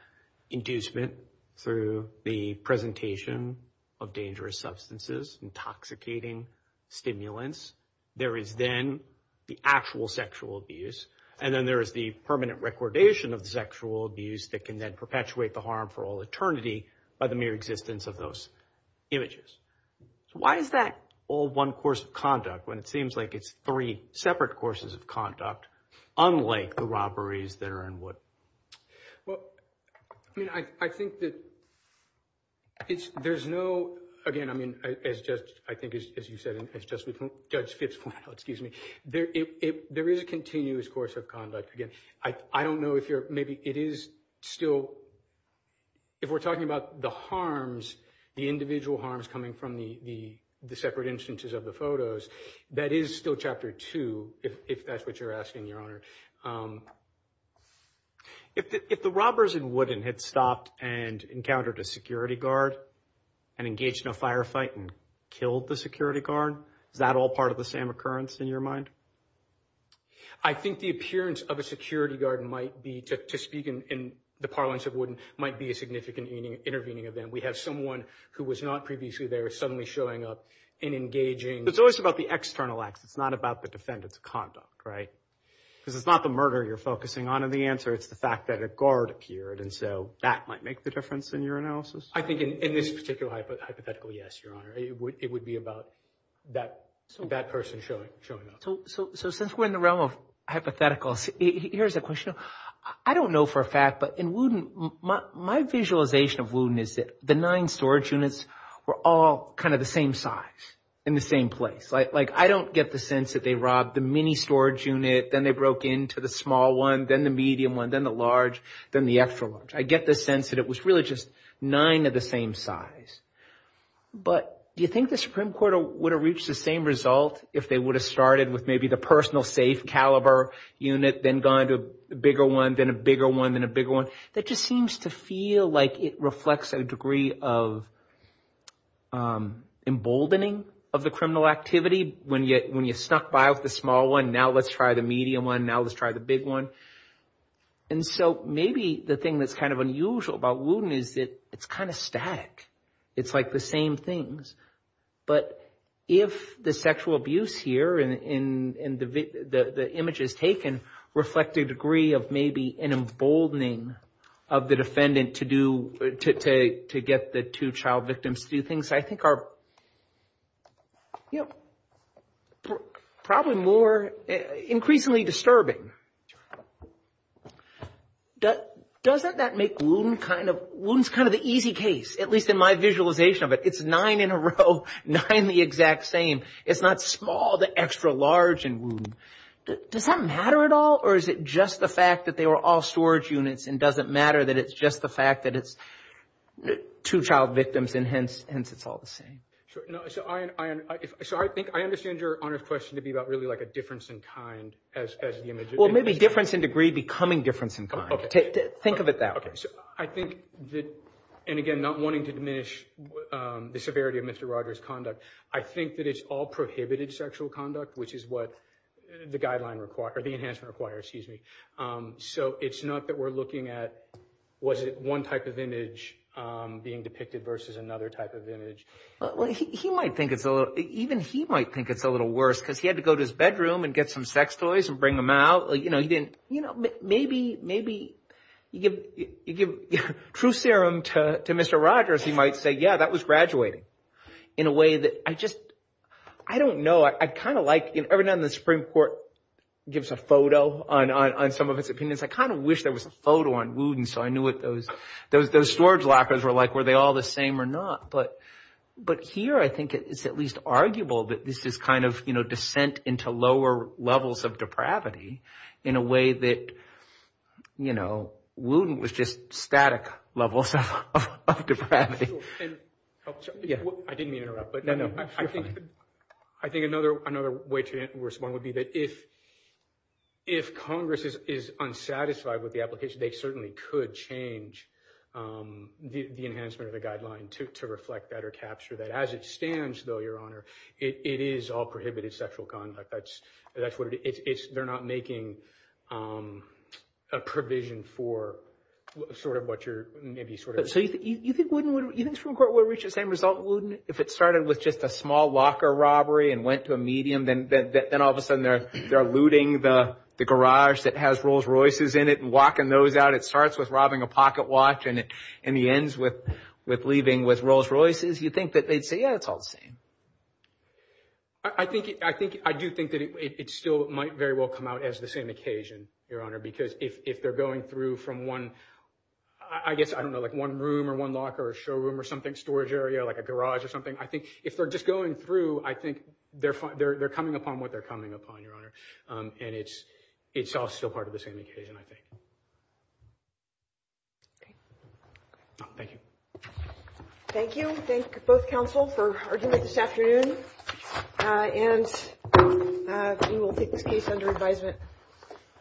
inducement through the presentation of dangerous substances, intoxicating stimulants. There is then the actual sexual abuse. And then there is the permanent recordation of sexual abuse that can then perpetuate the harm for all eternity by the mere existence of those images. So why is that all one course of conduct when it seems like it's three separate courses of conduct, unlike the robberies that are in what? Well, I mean, I think that. It's there's no again, I mean, as just I think, as you said, it's just with Judge Fitz, excuse me. There is a continuous course of conduct. Again, I don't know if you're maybe it is still. If we're talking about the harms, the individual harms coming from the separate instances of the photos, that is still chapter two, if that's what you're asking, Your Honor. If the robbers in Wooden had stopped and encountered a security guard and engaged in a firefight and killed the security guard, is that all part of the same occurrence in your mind? I think the appearance of a security guard might be to speak in the parlance of wouldn't might be a significant intervening event. We have someone who was not previously there suddenly showing up and engaging. It's always about the external acts. It's not about the defendant's conduct. Right. Because it's not the murder you're focusing on in the answer. It's the fact that a guard appeared. And so that might make the difference in your analysis, I think, in this particular hypothetical. Yes, Your Honor. It would be about that. So since we're in the realm of hypotheticals, here's a question. I don't know for a fact, but in Wooden, my visualization of Wooden is that the nine storage units were all kind of the same size in the same place. Like I don't get the sense that they robbed the mini storage unit, then they broke into the small one, then the medium one, then the large, then the extra large. I get the sense that it was really just nine of the same size. But do you think the Supreme Court would have reached the same result if they would have started with maybe the personal safe caliber unit, then gone to a bigger one, then a bigger one, then a bigger one? That just seems to feel like it reflects a degree of emboldening of the criminal activity. When you when you snuck by with the small one. Now let's try the medium one. Now let's try the big one. And so maybe the thing that's kind of unusual about Wooden is that it's kind of static. It's like the same things. But if the sexual abuse here and the images taken reflect a degree of maybe an emboldening of the defendant to get the two child victims to do things, I think are probably more increasingly disturbing. Doesn't that make Wooten kind of the easy case, at least in my visualization of it? It's nine in a row, nine the exact same. It's not small to extra large in Wooten. Does that matter at all or is it just the fact that they were all storage units and doesn't matter that it's just the fact that it's two child victims and hence it's all the same? So I think I understand your question to be about really like a difference in kind as the image. Well, maybe difference in degree becoming difference in kind. Think of it that way. I think that and again, not wanting to diminish the severity of Mr. Rogers conduct. I think that it's all prohibited sexual conduct, which is what the guideline requires, the enhancement requires, excuse me. So it's not that we're looking at was it one type of image being depicted versus another type of image. Well, he might think it's a little even he might think it's a little worse because he had to go to his bedroom and get some sex toys and bring them out. You know, he didn't you know, maybe maybe you give you give true serum to Mr. Rogers. He might say, yeah, that was graduating in a way that I just I don't know. I kind of like every now and then the Supreme Court gives a photo on on some of its opinions. I kind of wish there was a photo on Wooten. So I knew what those those those storage lockers were like, were they all the same or not? But but here I think it's at least arguable that this is kind of, you know, descent into lower levels of depravity in a way that, you know, Wooten was just static levels of depravity. I didn't mean to interrupt, but I think I think another another way to respond would be that if if Congress is unsatisfied with the application, they certainly could change the enhancement of the guideline to reflect that or capture that as it stands, though, your honor, it is all prohibited sexual conduct. That's that's what it is. They're not making a provision for sort of what you're maybe sort of. So you think Wooten would you think the Supreme Court would reach the same result? If it started with just a small locker robbery and went to a medium, then then all of a sudden they're they're looting the garage that has Rolls Royces in it and locking those out. It starts with robbing a pocket watch and it and the ends with with leaving with Rolls Royces. You think that they'd say, yeah, it's all the same. I think I think I do think that it still might very well come out as the same occasion, your honor, because if if they're going through from one, I guess I don't know, like one room or one locker or showroom or something, storage area like a garage or something, I think if they're just going through, I think they're they're they're coming upon what they're coming upon, your honor. And it's it's all still part of the same occasion, I think. OK, thank you. Thank you. Thank both counsel for this afternoon and we will take this case under advisement.